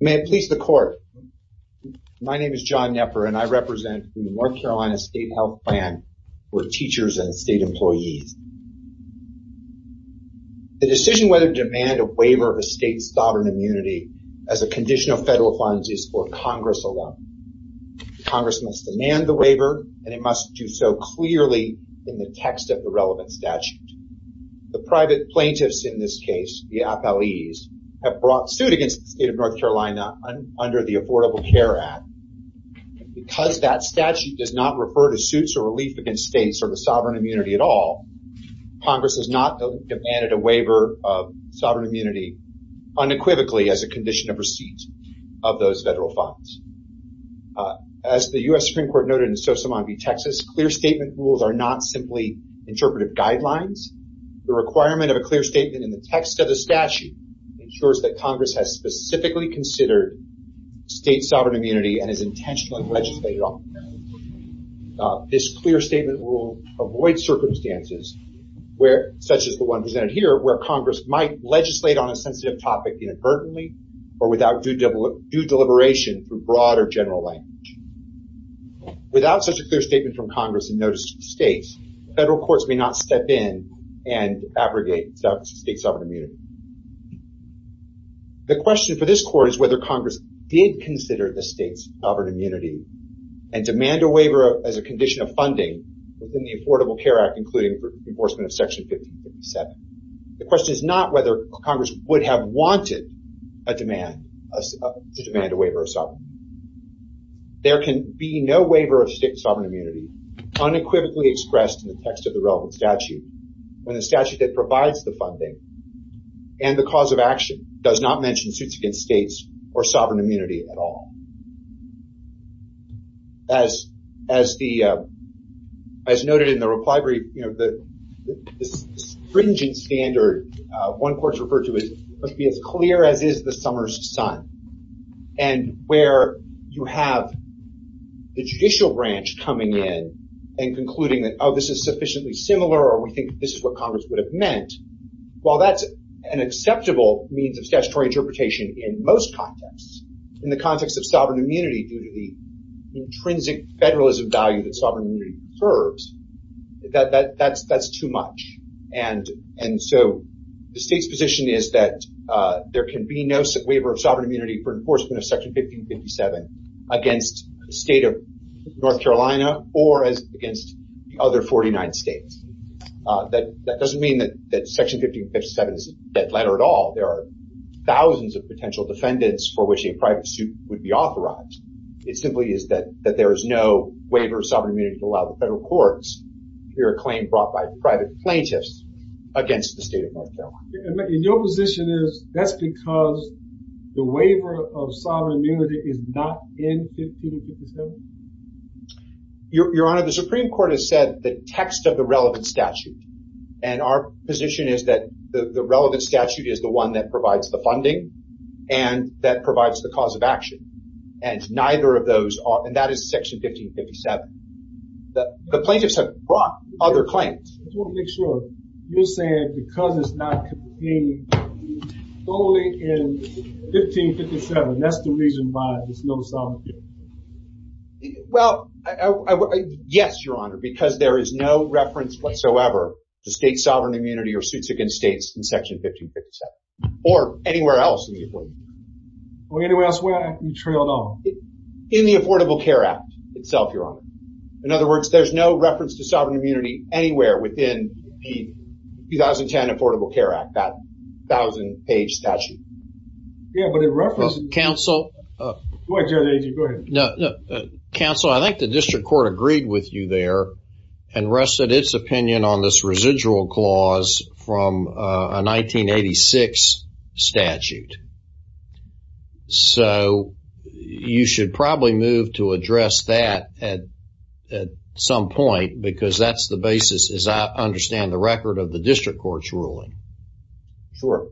May it please the court. My name is John Knepper and I represent the North Carolina State Health Plan for teachers and state employees. The decision whether to demand a waiver of a state's sovereign immunity as a condition of federal funds is for Congress alone. Congress must demand the waiver and it must do so clearly in the text of the relevant statute. The private plaintiffs in this case, the FLEs, have brought suit against the state of North Carolina under the Affordable Care Act. Because that statute does not refer to suits or relief against states or the sovereign immunity at all, Congress has not demanded a waiver of sovereign immunity unequivocally as a condition of receipt of those federal funds. As the U.S. Supreme Court noted in Sosamon v. Texas, clear statement rules are not simply interpretive guidelines. The requirement of a clear statement in the text of the statute ensures that Congress has specifically considered state sovereign immunity and is intentionally legislated on. This clear statement will avoid circumstances where, such as the one presented here, where Congress might legislate on a sensitive topic inadvertently or without due deliberation through broader general language. Without such a clear statement from Congress and notice to the states, federal courts may not step in and abrogate state sovereign immunity. The question for this court is whether Congress did consider the state's sovereign immunity and demand a waiver as a condition of funding within the Affordable Care Act, including for enforcement of Section 1557. The question is not whether Congress would have wanted a demand to demand a waiver of sovereign. There can be no waiver of state sovereign immunity unequivocally expressed in the text of the relevant statute when the statute that provides the funding and the cause of action does not mention suits against states or sovereign immunity at all. As noted in the reply brief, the stringent standard one court's referred to as must be as clear as is the summer's sun and where you have the judicial branch coming in and concluding that oh this is sufficiently similar or we think this is what Congress would have meant. While that's an acceptable means of statutory interpretation in most contexts, in the context of sovereign immunity due to the intrinsic federalism value that sovereign immunity preserves, that's too much. And so the state's position is that there can be no waiver of sovereign immunity for enforcement of Section 1557 against the state of North Carolina like other 49 states. That doesn't mean that Section 1557 is a dead letter at all. There are thousands of potential defendants for which a private suit would be authorized. It simply is that that there is no waiver of sovereign immunity to allow the federal courts to hear a claim brought by private plaintiffs against the state of North Carolina. And your position is that's because the waiver of text of the relevant statute and our position is that the relevant statute is the one that provides the funding and that provides the cause of action and neither of those are and that is Section 1557. The plaintiffs have brought other claims. I just want to make sure. You're saying because it's not contained only in 1557, that's the reason why there's no sovereign immunity? Well, yes, Your Honor, because there is no reference whatsoever to state sovereign immunity or suits against states in Section 1557 or anywhere else in the Affordable Care Act. Or anywhere else where you trailed off? In the Affordable Care Act itself, Your Honor. In other words, there's no reference to sovereign immunity anywhere within the 2010 Affordable Care Act, that thousand page statute. Yeah, but it references... Counsel, I think the district court agreed with you there and rested its opinion on this residual clause from a 1986 statute. So, you should probably move to address that at some point because that's the basis as I understand the record of the district court's ruling. Sure.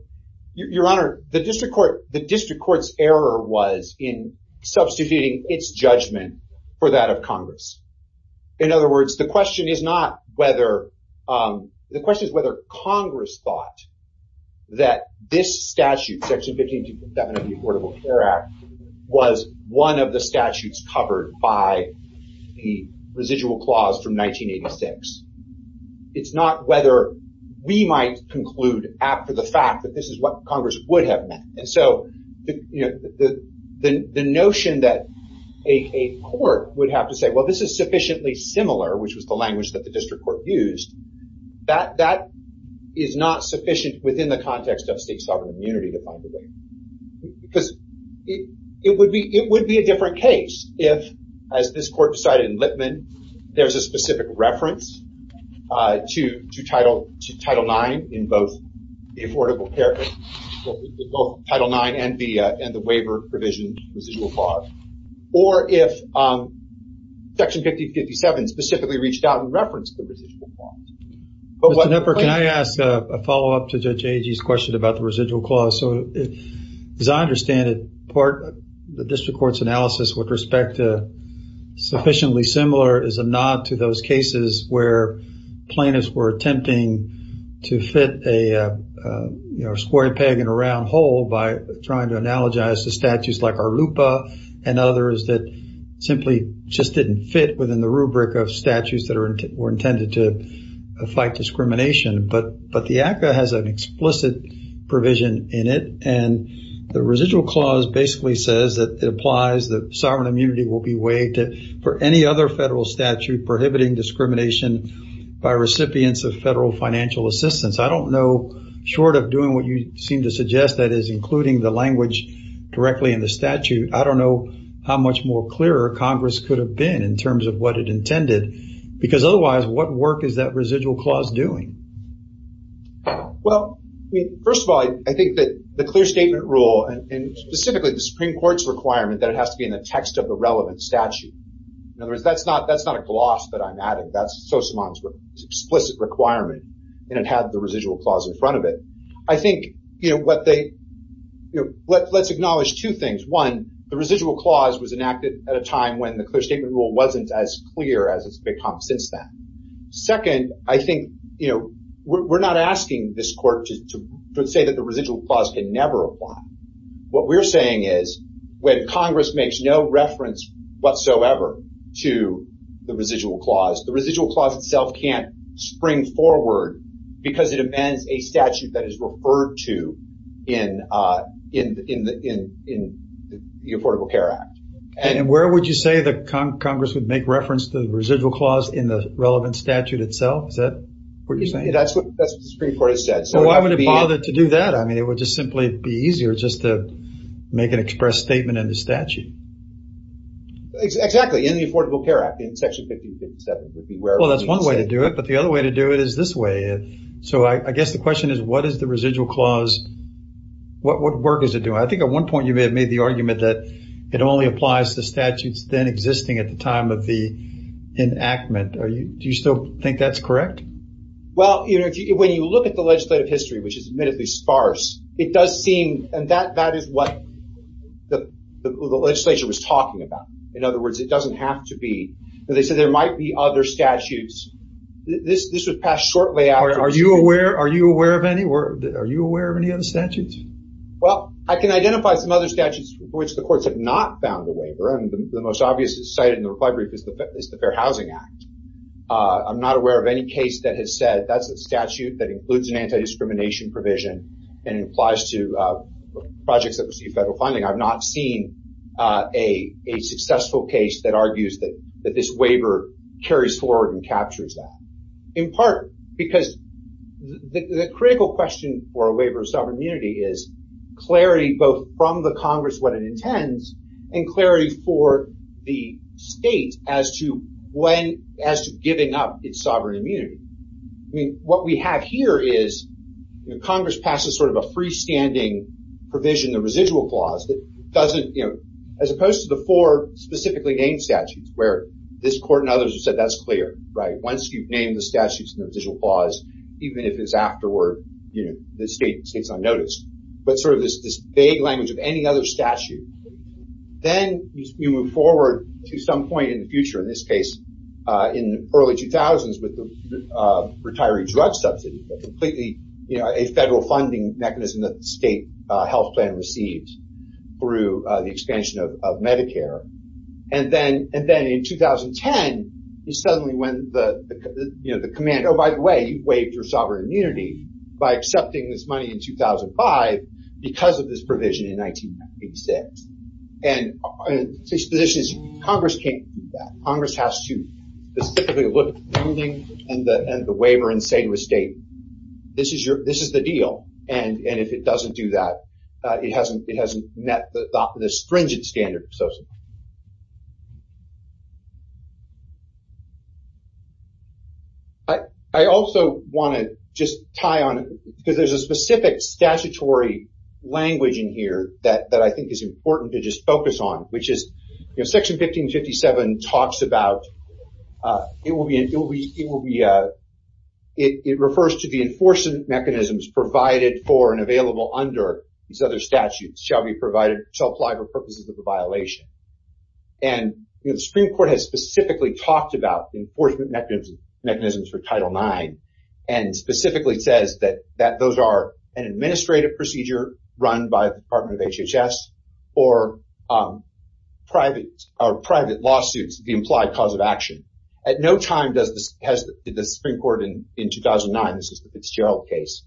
Your Honor, the district court's error was in substituting its judgment for that of Congress. In other words, the question is not whether... The question is whether Congress thought that this statute, Section 1557 of the Affordable Care Act, was one of the statutes covered by the residual clause from 1986. It's not whether we might conclude after the fact that this is what Congress would have meant. And so, the notion that a court would have to say, well, this is sufficiently similar, which was the language that the district court used, that is not sufficient within the context of state sovereign immunity, to my degree. Because it would be a different case if, as this court decided in Lipman, there's a specific reference to Title IX in both the Affordable Care Act, both Title IX and the waiver provision residual clause. Or if Section 1557 specifically reached out and referenced the residual clause. Mr. Knepper, can I ask a follow-up to Judge Agee's question about the residual clause? So, as I understand it, part of the district court's analysis with respect to sufficiently similar is a nod to those cases where plaintiffs were attempting to fit a square peg in a round hole by trying to analogize the statutes like Arlupa and others that simply just didn't fit within the rubric of statutes that were intended to fight discrimination. But the ACCA has an explicit provision in it. And the residual clause basically says that it applies that sovereign immunity will be waived for any other federal statute prohibiting discrimination by recipients of federal financial assistance. I don't know, short of doing what you seem to suggest, that is including the language directly in the statute, I don't know how much more clearer Congress could have been in terms of what it intended. Because otherwise, what work is that residual clause doing? Well, first of all, I think that the clear statement rule, and specifically the Supreme Court's requirement that it has to be in the text of the relevant statute, in other words, that's not a gloss that I'm adding. That's Sosimon's explicit requirement, and it had the residual clause in front of it. I think, you know, let's acknowledge two things. One, the residual clause was enacted at a time when the clear statement rule wasn't as clear as it's become since then. Second, I think, you know, we're not asking this court to say that the residual clause can never apply. What we're saying is when Congress makes no reference whatsoever to the residual clause, the residual clause itself can't spring forward because it amends a statute that is referred to in the Affordable Care Act. And where would you say that Congress would make reference to the residual clause in the relevant statute itself? Is that what you're saying? That's what the Supreme Court has said. So why would it bother to do that? I mean, it would just simply be easier just to make an express statement in the statute. Exactly, in the Affordable Care Act, in section 1557. Well, that's one way to do it, but the other way to do it is this way. So I guess the question is, what is the residual clause? What work is it doing? I think at one point you may have made the argument that it only applies to statutes then existing at the time of the enactment. Do you still think that's correct? Well, you know, when you look at the legislative history, which is admittedly sparse, it does seem, and that is what the legislature was talking about. In other words, it doesn't have to be, they said there might be other statutes. This was passed shortly after. Are you aware of any other statutes? Well, I can identify some other statutes for which the courts have not found a waiver, and the most obvious cited in the reply brief is the Fair Housing Act. I'm not aware of any case that has said that's a statute that includes an anti-discrimination provision and it applies to projects that receive federal funding. I've not seen a successful case that argues that this waiver carries forward and captures that. In part because the critical question for a waiver of sovereign immunity is clarity both from the Congress, what it intends, and clarity for the state as to when, as to giving up its sovereign immunity. I mean, what we have here is Congress passes sort of a freestanding provision, the residual clause, that doesn't, you know, as opposed to the four specifically named statutes where this court and others have said that's clear, right? Once you've named the statutes in the residual clause, even if it's afterward, you know, the state's unnoticed. But sort of this vague language of any other statute. Then you move forward to some point in the future, in this case, in the early 2000s, with the retiree drug subsidy, completely, you know, a federal funding mechanism that the state health plan receives through the expansion of Medicare. And then in 2010, you suddenly when the, you know, the command, oh, by the way, you've waived your sovereign immunity by accepting this money in 2005 because of this provision in 1986. And the position is Congress can't do that. Congress has to specifically look at the funding and the waiver and say to the state, this is your, this is the deal. And if it doesn't do that, it hasn't, it hasn't met the stringent standard so to speak. I also want to just tie on, because there's a specific statutory language in here that I think is important to just focus on, which is, you know, Section 1557 talks about, it will be, it refers to the enforcement mechanisms provided for and available under these other statutes shall be provided, shall apply for purposes of the violation. And the Supreme Court has specifically talked about the enforcement mechanisms for Title IX and specifically says that those are an administrative procedure run by the Department of HHS for private lawsuits, the implied cause of action. At no time does the Supreme Court in 2009, this is the Fitzgerald case,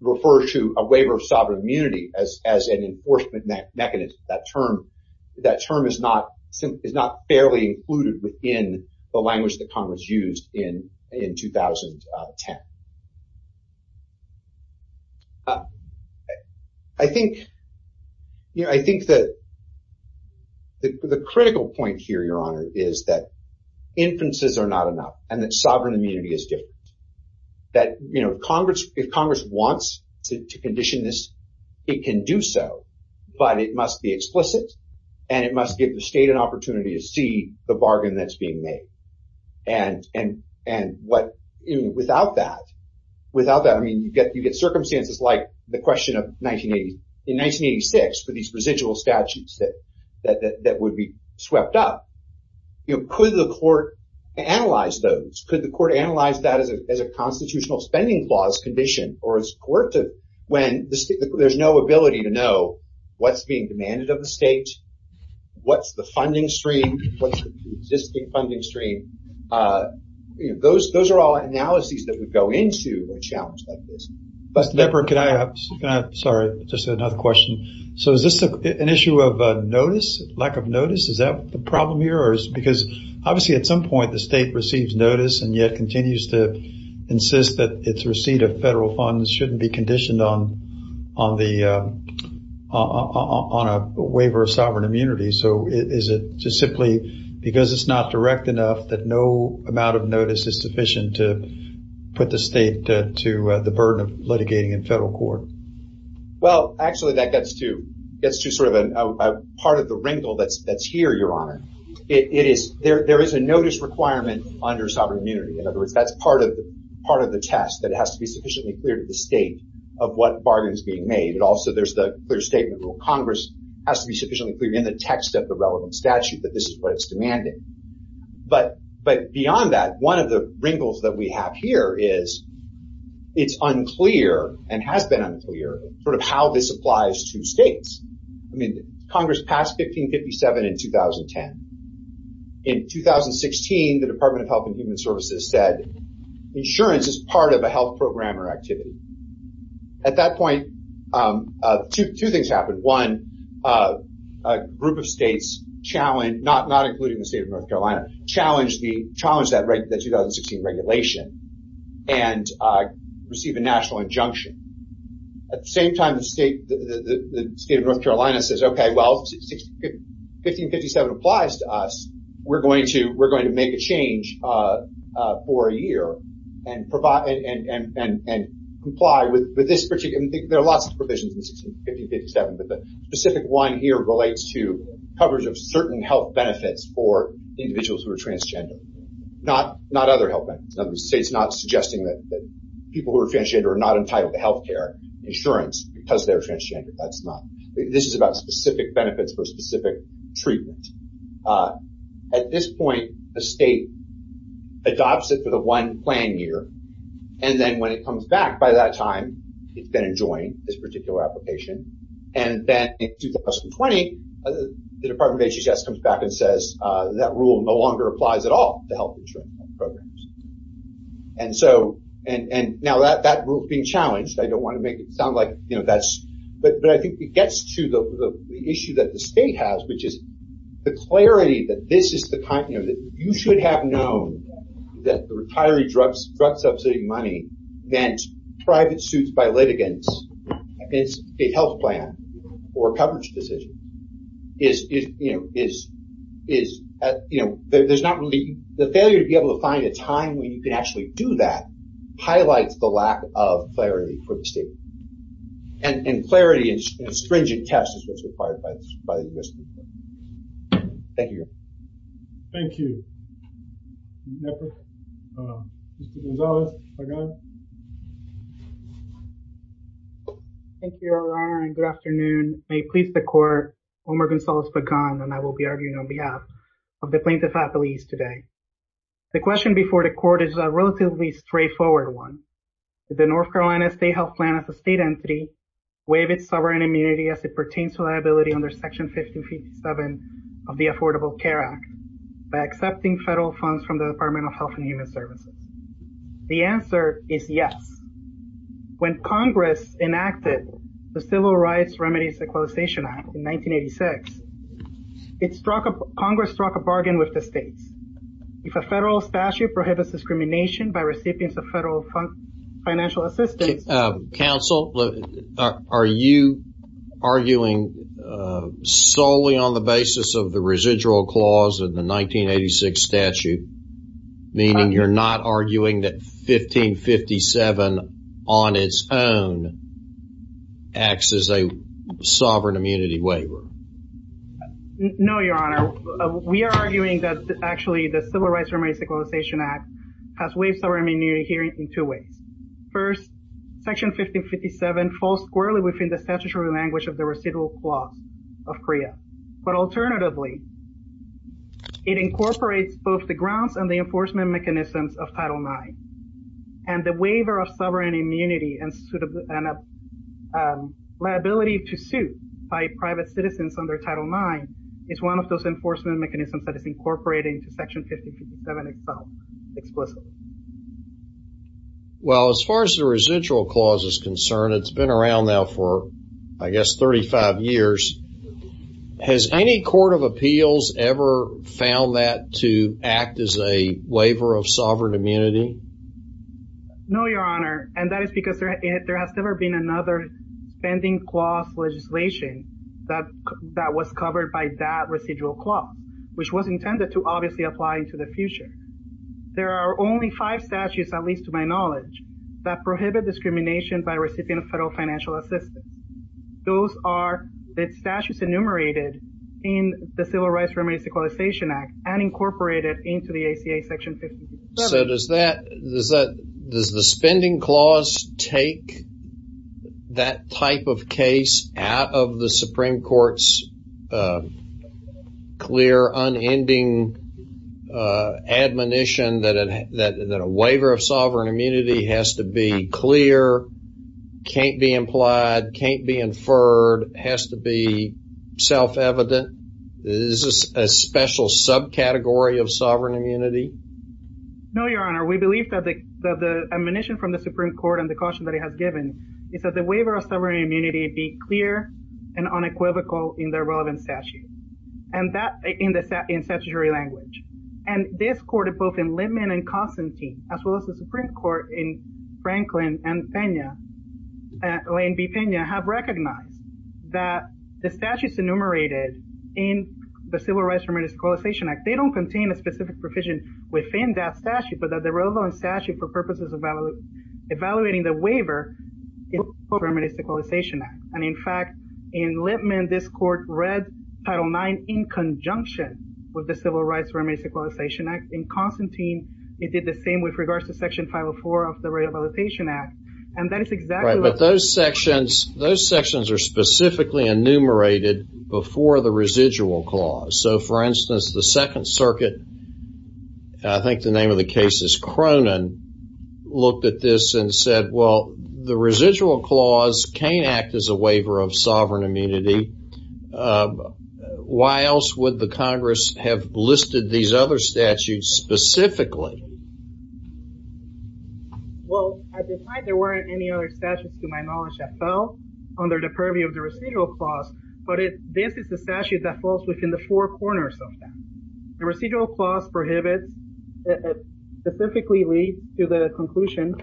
refer to a waiver of sovereign immunity as an enforcement mechanism. That term is not fairly included within the language that Congress used in 2010. I think, you know, I think that the critical point here, Your Honor, is that inferences are not enough and that sovereign immunity is different. That, you know, Congress, if Congress wants to condition this, it can do so, but it must be explicit and it must give the state an opportunity to see the bargain that's being made. And what, you know, without that, without that, I mean, you get, you get circumstances like the question of 1980, in 1986 for these residual statutes that would be swept up. You know, could the court analyze those? Could the court analyze that as a constitutional spending clause condition? Or is court to, when there's no ability to know what's being demanded of the state, what's the funding stream, what's the existing funding stream? Those are all analyses that would go into a challenge like this. Mr. Deppard, can I, sorry, just another question. So is this an issue of notice, lack of notice? Is that the problem here? Or is it because obviously at some point the state receives notice and yet continues to insist that its receipt of federal funds shouldn't be conditioned on the, on a waiver of sovereign immunity. So is it just simply because it's not direct enough that no amount of notice is sufficient to put the state to the burden of litigating in federal court? Well, actually that gets to, gets to sort of a part of the wrinkle that's here, Your Honor. It is, there is a notice requirement under sovereign immunity. In other words, that's part of the test that has to be sufficiently clear to the state of what bargain is being made. It also, there's the clear statement rule. Congress has to be sufficiently clear in the text of the relevant statute that this is what it's demanding. But, but beyond that, one of the wrinkles that we have here is it's unclear and has been unclear sort of how this applies to states. I mean, Congress passed 1557 in 2010. In 2016, the Department of Health and Human Services said insurance is part of a health program or activity. At that point, two things happened. One, a group of states challenged, not including the state of North Carolina, challenged the, challenged that 2016 regulation and received a national injunction. At the same time, the state of North Carolina says, okay, well, 1557 applies to us. We're going to, we're going to make a change for a year and provide, and comply with this particular, and there are lots of provisions in 1557, but the specific one here relates to coverage of certain health benefits for individuals who are transgender. Not, not other health benefits. In other words, the state's not suggesting that people who are transgender are not entitled to healthcare insurance because they're transgender. That's not, this is about specific benefits for specific treatment. Uh, at this point, the state adopts it for the one plan year. And then when it comes back by that time, it's going to join this particular application. And then in 2020, the Department of HHS comes back and says, that rule no longer applies at all to health insurance programs. And so, and, and now that, that group being challenged, I don't want to make it sound like, you know, that's, but I think it gets to the issue that the state has, which is the clarity that this is the kind of, you know, that you should have known that the retiree drugs, drug subsidy money meant private suits by litigants. It's a health plan or a coverage decision is, is, you know, is, is, you know, there's not really, the failure to be able to find a time when you can actually do that highlights the lack of clarity for the state. And clarity and stringent tests is what's required by the U.S. Thank you. Thank you. Thank you, Your Honor, and good afternoon. May it please the court, Omer Gonzalez-Pagan, and I will be arguing on behalf of the plaintiff's affiliates today. The question before the court is a relatively straightforward one. Did the North Carolina state health plan as a state entity waive its sovereign immunity as it pertains to liability under section 1557 of the Affordable Care Act by accepting federal funds from the Department of Health and Human Services? The answer is yes. When Congress enacted the Civil Rights Remedies Equalization Act in 1986, it struck a, Congress struck a bargain with the states. If a federal statute prohibits discrimination by recipients of federal financial assistance. Counsel, are you arguing solely on the basis of the residual clause in the 1986 statute, meaning you're not arguing that 1557 on its own acts as a sovereign immunity waiver? No, Your Honor. We are arguing that actually the Civil Rights Remedies Equalization Act has waived sovereign immunity here in two ways. First, section 1557 falls squarely within the statutory language of the residual clause of CREA. But alternatively, it incorporates both the grounds and the enforcement mechanisms of Title IX. And the waiver of sovereign immunity and liability to suit by private citizens under Title IX is one of those enforcement mechanisms that is incorporated into section 1557 itself, explicitly. Well, as far as the residual clause is concerned, it's been around now for, I guess, 35 years. Has any court of appeals ever found that to act as a waiver of sovereign immunity? No, Your Honor. And that is because there has never been another spending clause legislation that was covered by that residual clause, which was intended to obviously apply into the future. There are only five statutes, at least to my knowledge, that prohibit discrimination by a recipient of federal financial assistance. Those are the statutes enumerated in the Civil Rights Remedies Equalization Act and incorporated into the ACA section 1557. So does the spending clause take that type of case out of the Supreme Court's clear unending admonition that a waiver of sovereign immunity has to be clear, can't be implied, can't be inferred, has to be self-evident? Is this a special subcategory of sovereign immunity? No, Your Honor. We believe that the admonition from the Supreme Court and the caution that it has given is that the waiver of sovereign immunity be clear and unequivocal in their relevant statute, and that in statutory language. And this court, both in Littman and Constantine, as well as the Supreme Court in Franklin and Peña, Lane v. Peña, have recognized that the statutes enumerated in the Civil Rights Remedies Equalization Act, they don't contain a specific provision within that statute, but that the relevant statute for purposes of evaluating the waiver is the Civil Rights Remedies Equalization Act. And in fact, in Littman, this court read Title IX in conjunction with the Civil Rights Remedies Equalization Act. In Constantine, it did the same with regards to Section 504 of the Rehabilitation Act. And that is exactly what those sections, those sections are specifically enumerated before the residual clause. So for instance, the Second Circuit, I think the name of the case is Cronin, looked at this and said, well, the residual clause can't act as a waiver of sovereign immunity. Why else would the Congress have listed these other statutes specifically? Well, there weren't any other statutes to my knowledge that fell under the purview of the residual clause, but this is the statute that falls within the four corners of that. The residual clause prohibits, specifically leads to the conclusion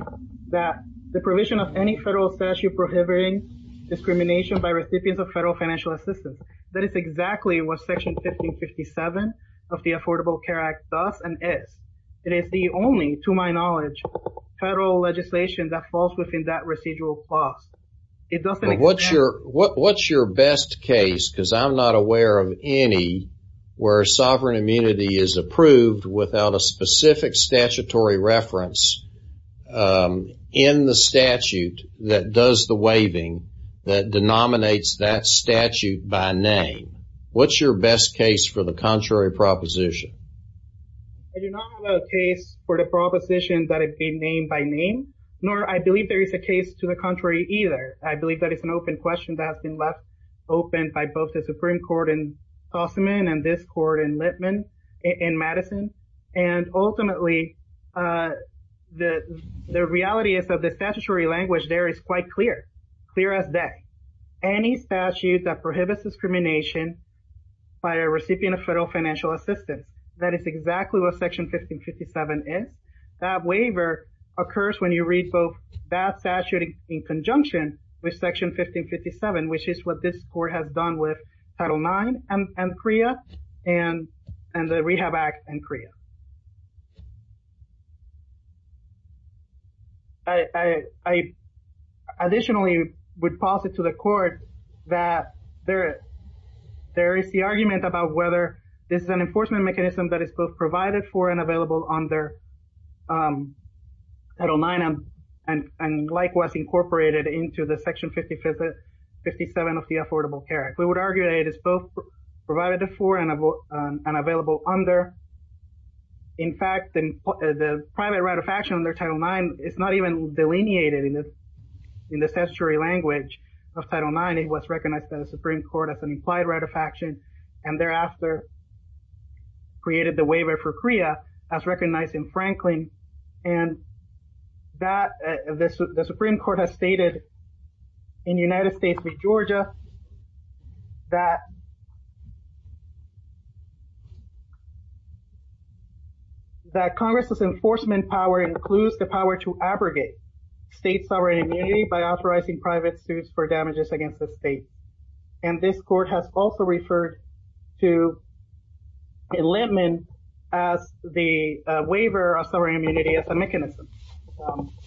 that the provision of any federal statute prohibiting discrimination by recipients of federal financial assistance. That is exactly what Section 1557 of the Affordable Care Act does and is. It is the only, to my knowledge, federal legislation that falls within that residual clause. But what's your best case? Because I'm not aware of any where sovereign immunity is approved without a specific statutory reference in the statute that does the waiving that denominates that statute by name. What's your best case for the contrary proposition? I do not have a case for the proposition that it be named by name, nor I believe there is a case to the contrary either. I believe that it's an open question that has been left open by both the Supreme Court in Tossamon and this court in Litman in Madison. And ultimately, the reality is that the statutory language there is quite clear, clear as day. Any statute that prohibits discrimination by a recipient of federal financial assistance, that is exactly what Section 1557 is. That waiver occurs when you read both that statute in conjunction with Section 1557, which is what this court has done with Title IX and CREA and the Rehab Act and CREA. I additionally would posit to the court that there is the argument about whether this is an enforcement mechanism that is both provided for and available under Title IX and likewise incorporated into the Section 1557 of the Affordable Care Act. We would argue that it is both provided for and available under. In fact, the private right of action under Title IX is not even delineated in the statutory language of Title IX. It was recognized by the Supreme Court as an implied right of action and thereafter and that the Supreme Court has stated in United States v. Georgia that that Congress's enforcement power includes the power to abrogate state sovereign immunity by authorizing private suits for damages against the state. And this court has also referred to enlistment as the waiver of sovereign immunity as a mechanism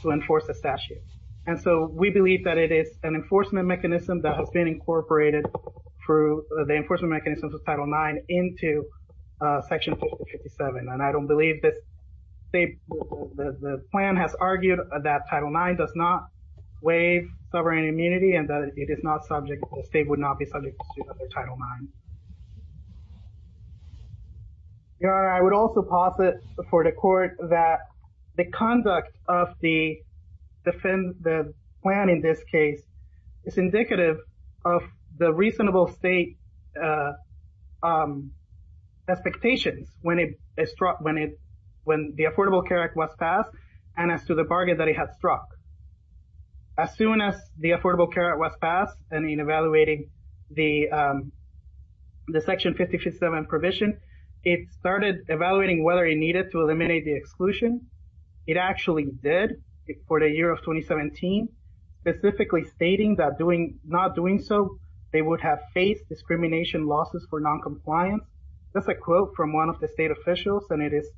to enforce the statute. And so we believe that it is an enforcement mechanism that has been incorporated through the enforcement mechanisms of Title IX into Section 1557. And I don't believe that the plan has argued that Title IX does not imply sovereign immunity and that it is not subject, the state would not be subject to Title IX. I would also posit before the court that the conduct of the plan in this case is indicative of the reasonable state expectations when the Affordable Care Act was passed and as to the bargain that it had struck. As soon as the Affordable Care Act was passed and in evaluating the Section 1557 provision, it started evaluating whether it needed to eliminate the exclusion. It actually did for the year of 2017, specifically stating that not doing so, they would have faced discrimination losses for non-compliance. That's a quote from one of the state officials and it is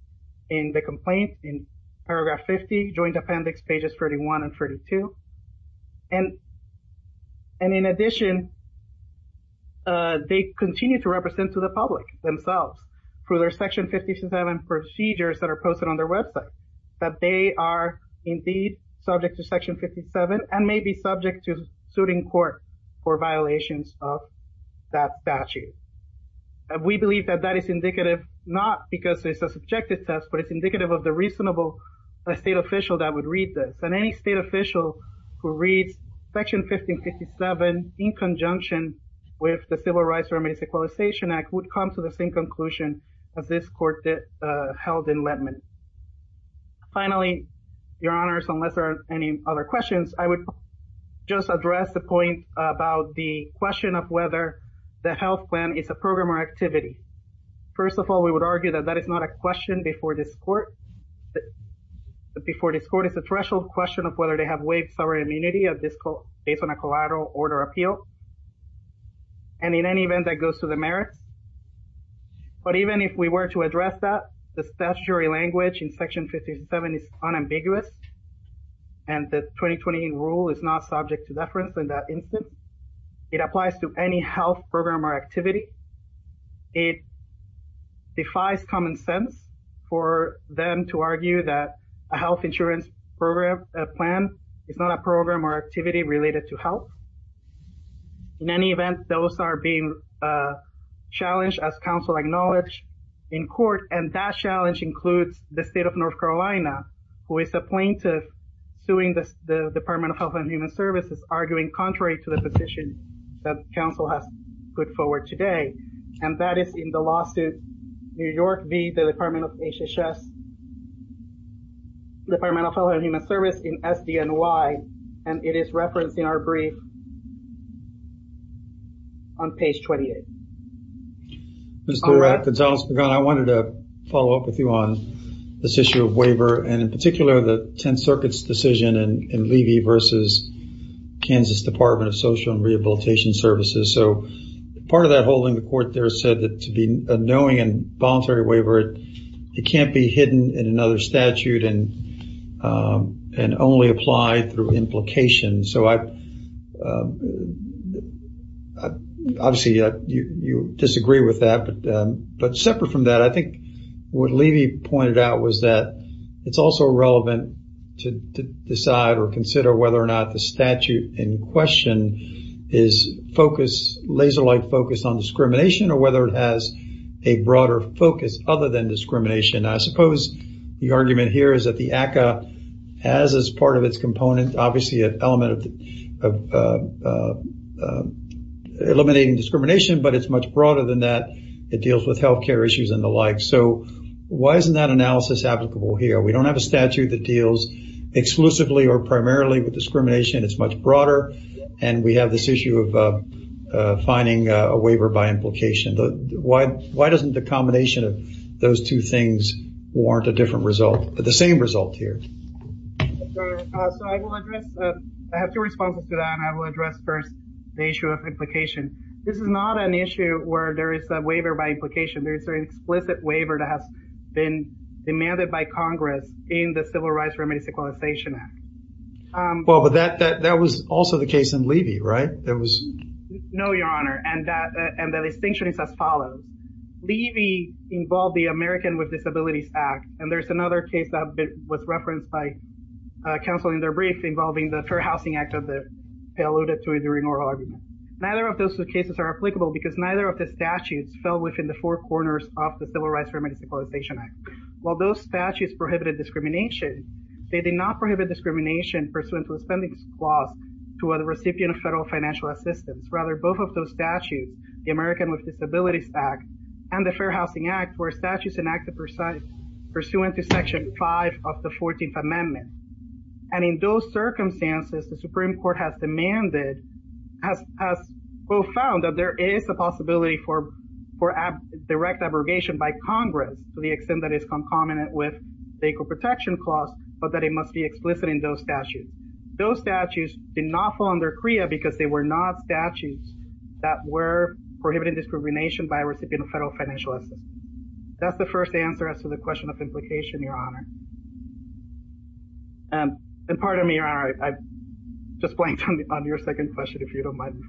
in the complaint in paragraph 50, Joint Appendix pages 31 and 32. And in addition, they continue to represent to the public themselves through their Section 1557 procedures that are posted on their website, that they are indeed subject to Section 1557 and may be subject to suiting court for violations of that statute. We believe that that is indicative, not because it's a subjective test, but it's indicative of the reasonable state official that would read this. And any state official who reads Section 1557 in conjunction with the Civil Rights Remedies Equalization Act would come to the same conclusion as this court that held in Letman. Finally, Your Honors, unless there are any other questions, I would just address the point about the question of whether the health plan is a program or activity. First of all, we would argue that that is not a question before this court. Before this court, it's a threshold question of whether they have waived sovereign immunity of this based on a collateral order appeal. And in any event, that goes to the merits. But even if we were to address that, the statutory language in Section 1557 is unambiguous. And the 2020 rule is not subject to deference in that instance. It applies to any health program or activity. It defies common sense for them to argue that a health insurance program, a plan, is not a program or activity related to health. In any event, those are being challenged as counsel acknowledge in court. And that challenge includes the state of North Carolina, who is a plaintiff suing the Department of Health and Human Services, arguing contrary to the position that counsel has put forward today. And that is in the lawsuit, New York v. the Department of Health and Human Services in SDNY. And it is referenced in our brief on page 28. Mr. Durack, Gonzalez-Pagan, I wanted to follow up with you on this issue of waiver, and in particular, the Tenth Circuit's decision in Levy v. Kansas Department of Social and Rehabilitation Services. So part of that hold in the court there said that to be a knowing and voluntary waiver, it can't be hidden in another statute and only apply through implication. Obviously, you disagree with that. But separate from that, I think what Levy pointed out was that it's also relevant to decide or consider whether or not the statute in question is laser-like focused on discrimination, or whether it has a broader focus other than discrimination. I suppose the argument here is that the ACCA has as part of its component, obviously, an element of eliminating discrimination, but it's much broader than that. It deals with health care issues and the like. So why isn't that analysis applicable here? We don't have a statute that deals exclusively or primarily with discrimination. It's much broader. And we have this issue of finding a waiver by implication. Why doesn't the combination of those two things warrant a different result, but the same result here? I have two responses to that. I will address first the issue of implication. This is not an issue where there is a waiver by implication. There is an explicit waiver that has been demanded by Congress in the Civil Rights Remedies Equalization Act. Well, but that was also the case in Levy, right? There was... No, Your Honor. And the distinction is as follows. Levy involved the American with Disabilities Act. And there's another case that was referenced by counsel in their brief involving the Fair Housing Act that they alluded to during oral argument. Neither of those two cases are applicable because neither of the statutes fell within the four corners of the Civil Rights Remedies Equalization Act. While those statutes prohibited discrimination, they did not prohibit discrimination pursuant to a spending clause to a recipient of federal financial assistance. Rather, both of those statutes, the American with Disabilities Act and the Fair Housing Act were statutes enacted pursuant to Section 5 of the 14th Amendment. And in those circumstances, the Supreme Court has demanded, has found that there is a possibility for direct abrogation by Congress to the extent that it's concomitant with the Equal Protection Clause but that it must be explicit in those statutes. Those statutes did not fall under CREA because they were not statutes that were prohibiting discrimination by a recipient of federal financial assistance. That's the first answer as to the question of implication, Your Honor. And pardon me, Your Honor, I just blanked on your second question, if you don't mind.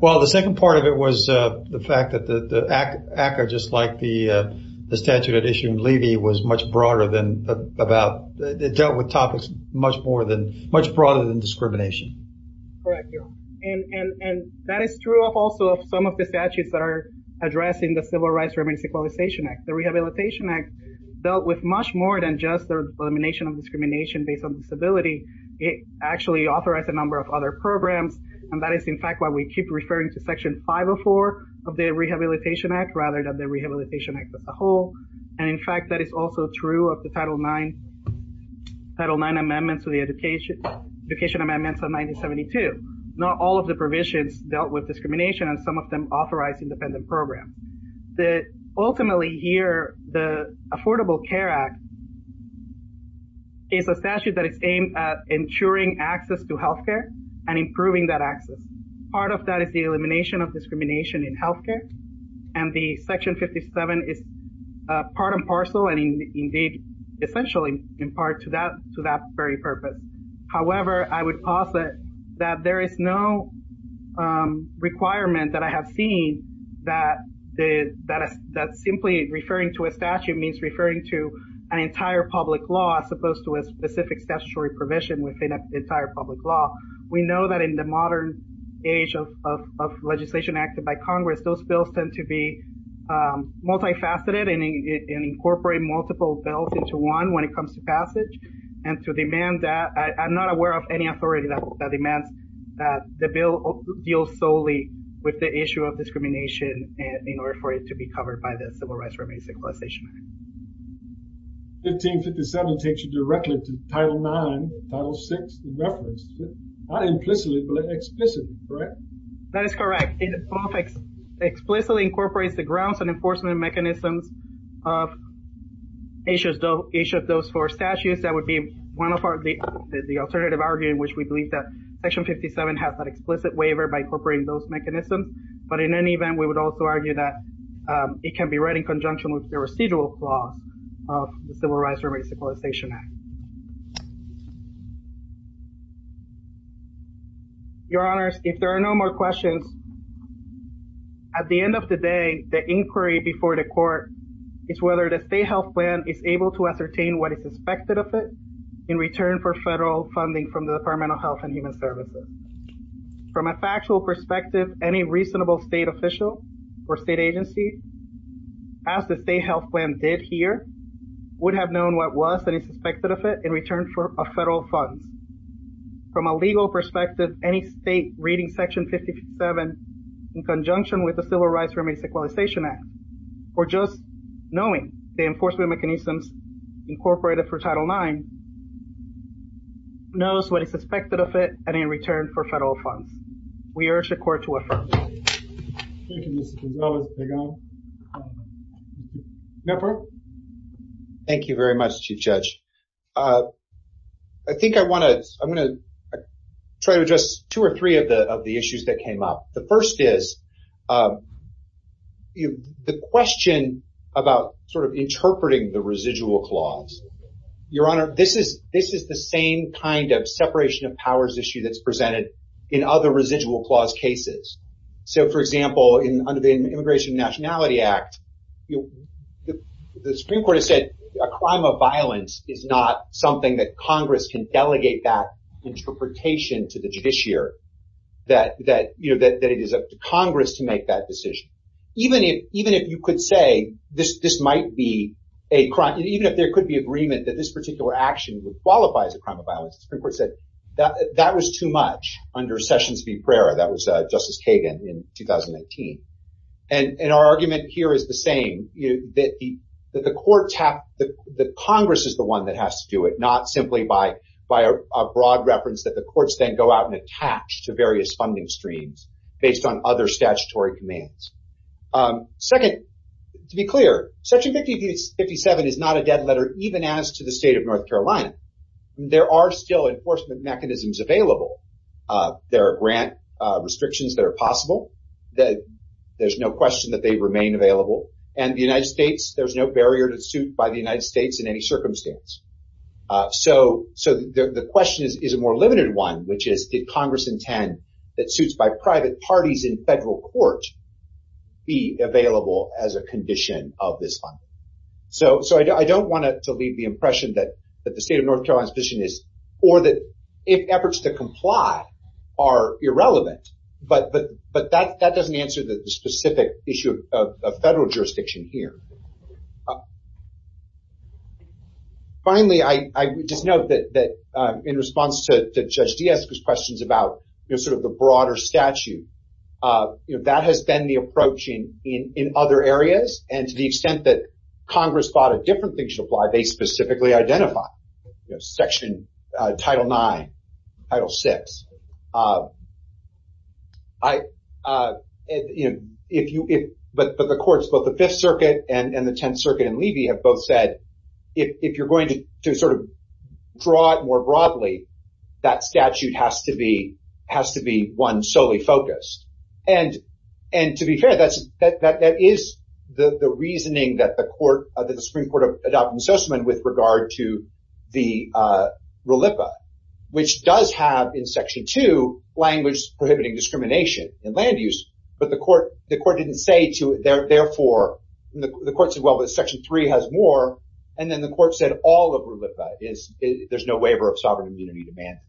Well, the second part of it was the fact that the ACCA, just like the statute that issued in Levy, was much broader than about, it dealt with topics much broader than discrimination. Correct, Your Honor. And that is true of also some of the statutes that are addressing the Civil Rights Remedies Equalization Act. The Rehabilitation Act dealt with much more than just elimination of discrimination based on disability. It actually authorized a number of other programs and that is in fact why we keep referring to Section 504 of the Rehabilitation Act rather than the Rehabilitation Act as a whole. And in fact, that is also true of the Title IX amendments to the Education Amendments of 1972. Not all of the provisions dealt with discrimination and some of them authorized independent programs. That ultimately here, the Affordable Care Act is a statute that is aimed at ensuring access to healthcare and improving that access. Part of that is the elimination of discrimination in healthcare and the Section 57 is part and parcel and indeed essentially in part to that very purpose. However, I would posit that there is no requirement that I have seen that simply referring to a statute means referring to an entire public law as opposed to a specific statutory provision within an entire public law. We know that in the modern age of legislation acted by Congress, those bills tend to be multifaceted and incorporate multiple bills into one when it comes to passage. And to demand that, I'm not aware of any authority that demands that the bill deals solely with the issue of discrimination in order for it to be covered by the Civil Rights Remedies Equalization Act. 1557 takes you directly to Title IX, Title VI, the reference, not implicitly, but explicitly, correct? That is correct. It explicitly incorporates the grounds and enforcement mechanisms of each of those four statutes that would be one of the alternative argument in which we believe that Section 57 has an explicit waiver by incorporating those mechanisms. But in any event, we would also argue that it can be read in conjunction with the residual flaws of the Civil Rights Remedies Equalization Act. Your honors, if there are no more questions, at the end of the day, the inquiry before the court is whether the state health plan is able to ascertain what is expected of it in return for federal funding from the Department of Health and Human Services. From a factual perspective, any reasonable state official or state agency, as the state health plan did here, would have known what was expected of it in return for federal funds. From a legal perspective, any state reading Section 57 in conjunction with the Civil Rights Remedies Equalization Act, or just knowing the enforcement mechanisms incorporated for Title IX, knows what is expected of it and in return for federal funds. We urge the court to affirm. Thank you, Mr. Gonzales. May I? Thank you very much, Chief Judge. I think I want to, I'm going to try to address two or three of the issues that came up. The first is the question about sort of interpreting the residual clause. Your Honor, this is the same kind of separation of powers issue that's presented in other residual clause cases. So, for example, in under the Immigration and Nationality Act, the Supreme Court has said a crime of violence is not something that Congress can delegate that interpretation to the judiciary, that it is up to Congress to make that decision. Even if you could say this might be a crime, even if there could be agreement that this particular action would qualify as a crime of violence, the Supreme Court said that was too much under Sessions v. Pereira. That was Justice Kagan in 2019. And our argument here is the same, that the courts have, that Congress is the one that has to do it, not simply by a broad reference that the courts then go out and attach to various funding streams based on other statutory commands. Second, to be clear, Section 57 is not a dead letter, even as to the state of North Carolina. There are still enforcement mechanisms available. There are grant restrictions that are possible. There's no question that they remain available. And the United States, there's no barrier to suit by the United States in any circumstance. So the question is a more limited one, which is did Congress intend that suits by private parties in federal court be available as a condition of this funding? So I don't want to leave the impression that the state of North Carolina's position is, or that if efforts to comply are irrelevant, but that doesn't answer the specific issue of federal jurisdiction here. Finally, I just note that in response to Judge Diaz's questions about sort of the broader statute, you know, that has been the approach in other areas. And to the extent that Congress thought a different thing should apply, they specifically identify, Section Title IX, Title VI. But the courts, both the Fifth Circuit and the Tenth Circuit and Levy have both said, if you're going to sort of draw it more broadly, that statute has to be one solely focused. And to be fair, that is the reasoning that the Supreme Court adopted in Sussman with regard to the RULIPA, which does have in Section II, language prohibiting discrimination in land use. But the court didn't say to it, therefore, the court said, well, but Section III has more. And then the court said all of RULIPA is, there's no waiver of sovereign immunity to man.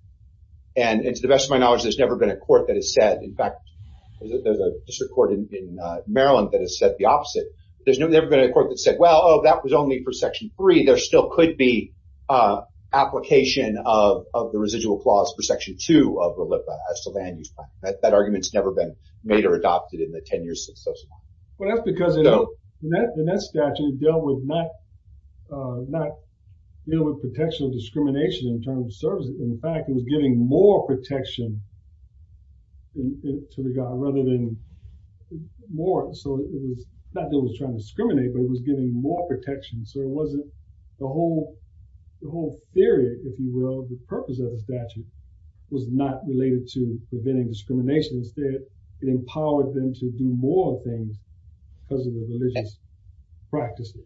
And to the best of my knowledge, there's never been a court that has said, in fact, there's a district court in Maryland that has said the opposite. There's never been a court that said, well, that was only for Section III. There still could be application of the residual clause for Section II of RULIPA as to land use. That argument's never been made or adopted in the 10 years since Sussman. Well, that's because in that statute, it dealt with protection of discrimination in terms of services. In fact, it was giving more protection to the guy rather than more. So it was not that it was trying to discriminate, but it was giving more protection. So it wasn't the whole theory, if you will, the purpose of the statute was not related to preventing discrimination. Instead, it empowered them to do more things because of the religious practices.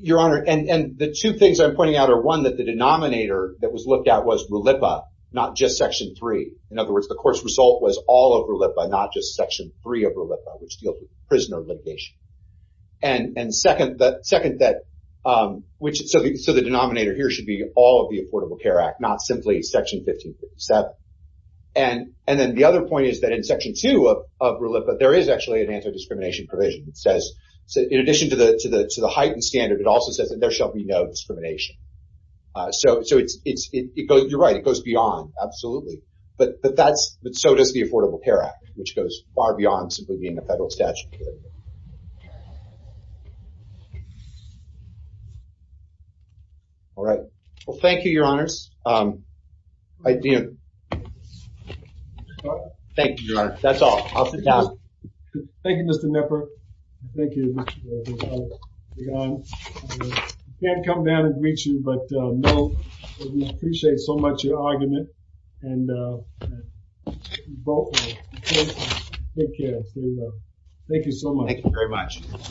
Your Honor, and the two things I'm pointing out are one, that the denominator that was looked at was RULIPA, not just Section III. In other words, the court's result was all of RULIPA, not just Section III of RULIPA, which dealt with prisoner litigation. And second, that which, so the denominator here should be all of the Affordable Care Act, not simply Section 1557. And then the other point is that in Section II of RULIPA, there is actually an anti-discrimination provision that says, in addition to the heightened standard, it also says that there shall be no discrimination. So you're right, it goes beyond, absolutely. But so does the Affordable Care Act, which goes far beyond simply being a federal statute. All right. Well, thank you, Your Honors. Thank you, Your Honor. That's all. Off the top. Thank you, Mr. Knepper. Thank you, Mr. Gonzales. I can't come down and greet you, but we appreciate so much your argument. And take care. Thank you so much. Thank you very much.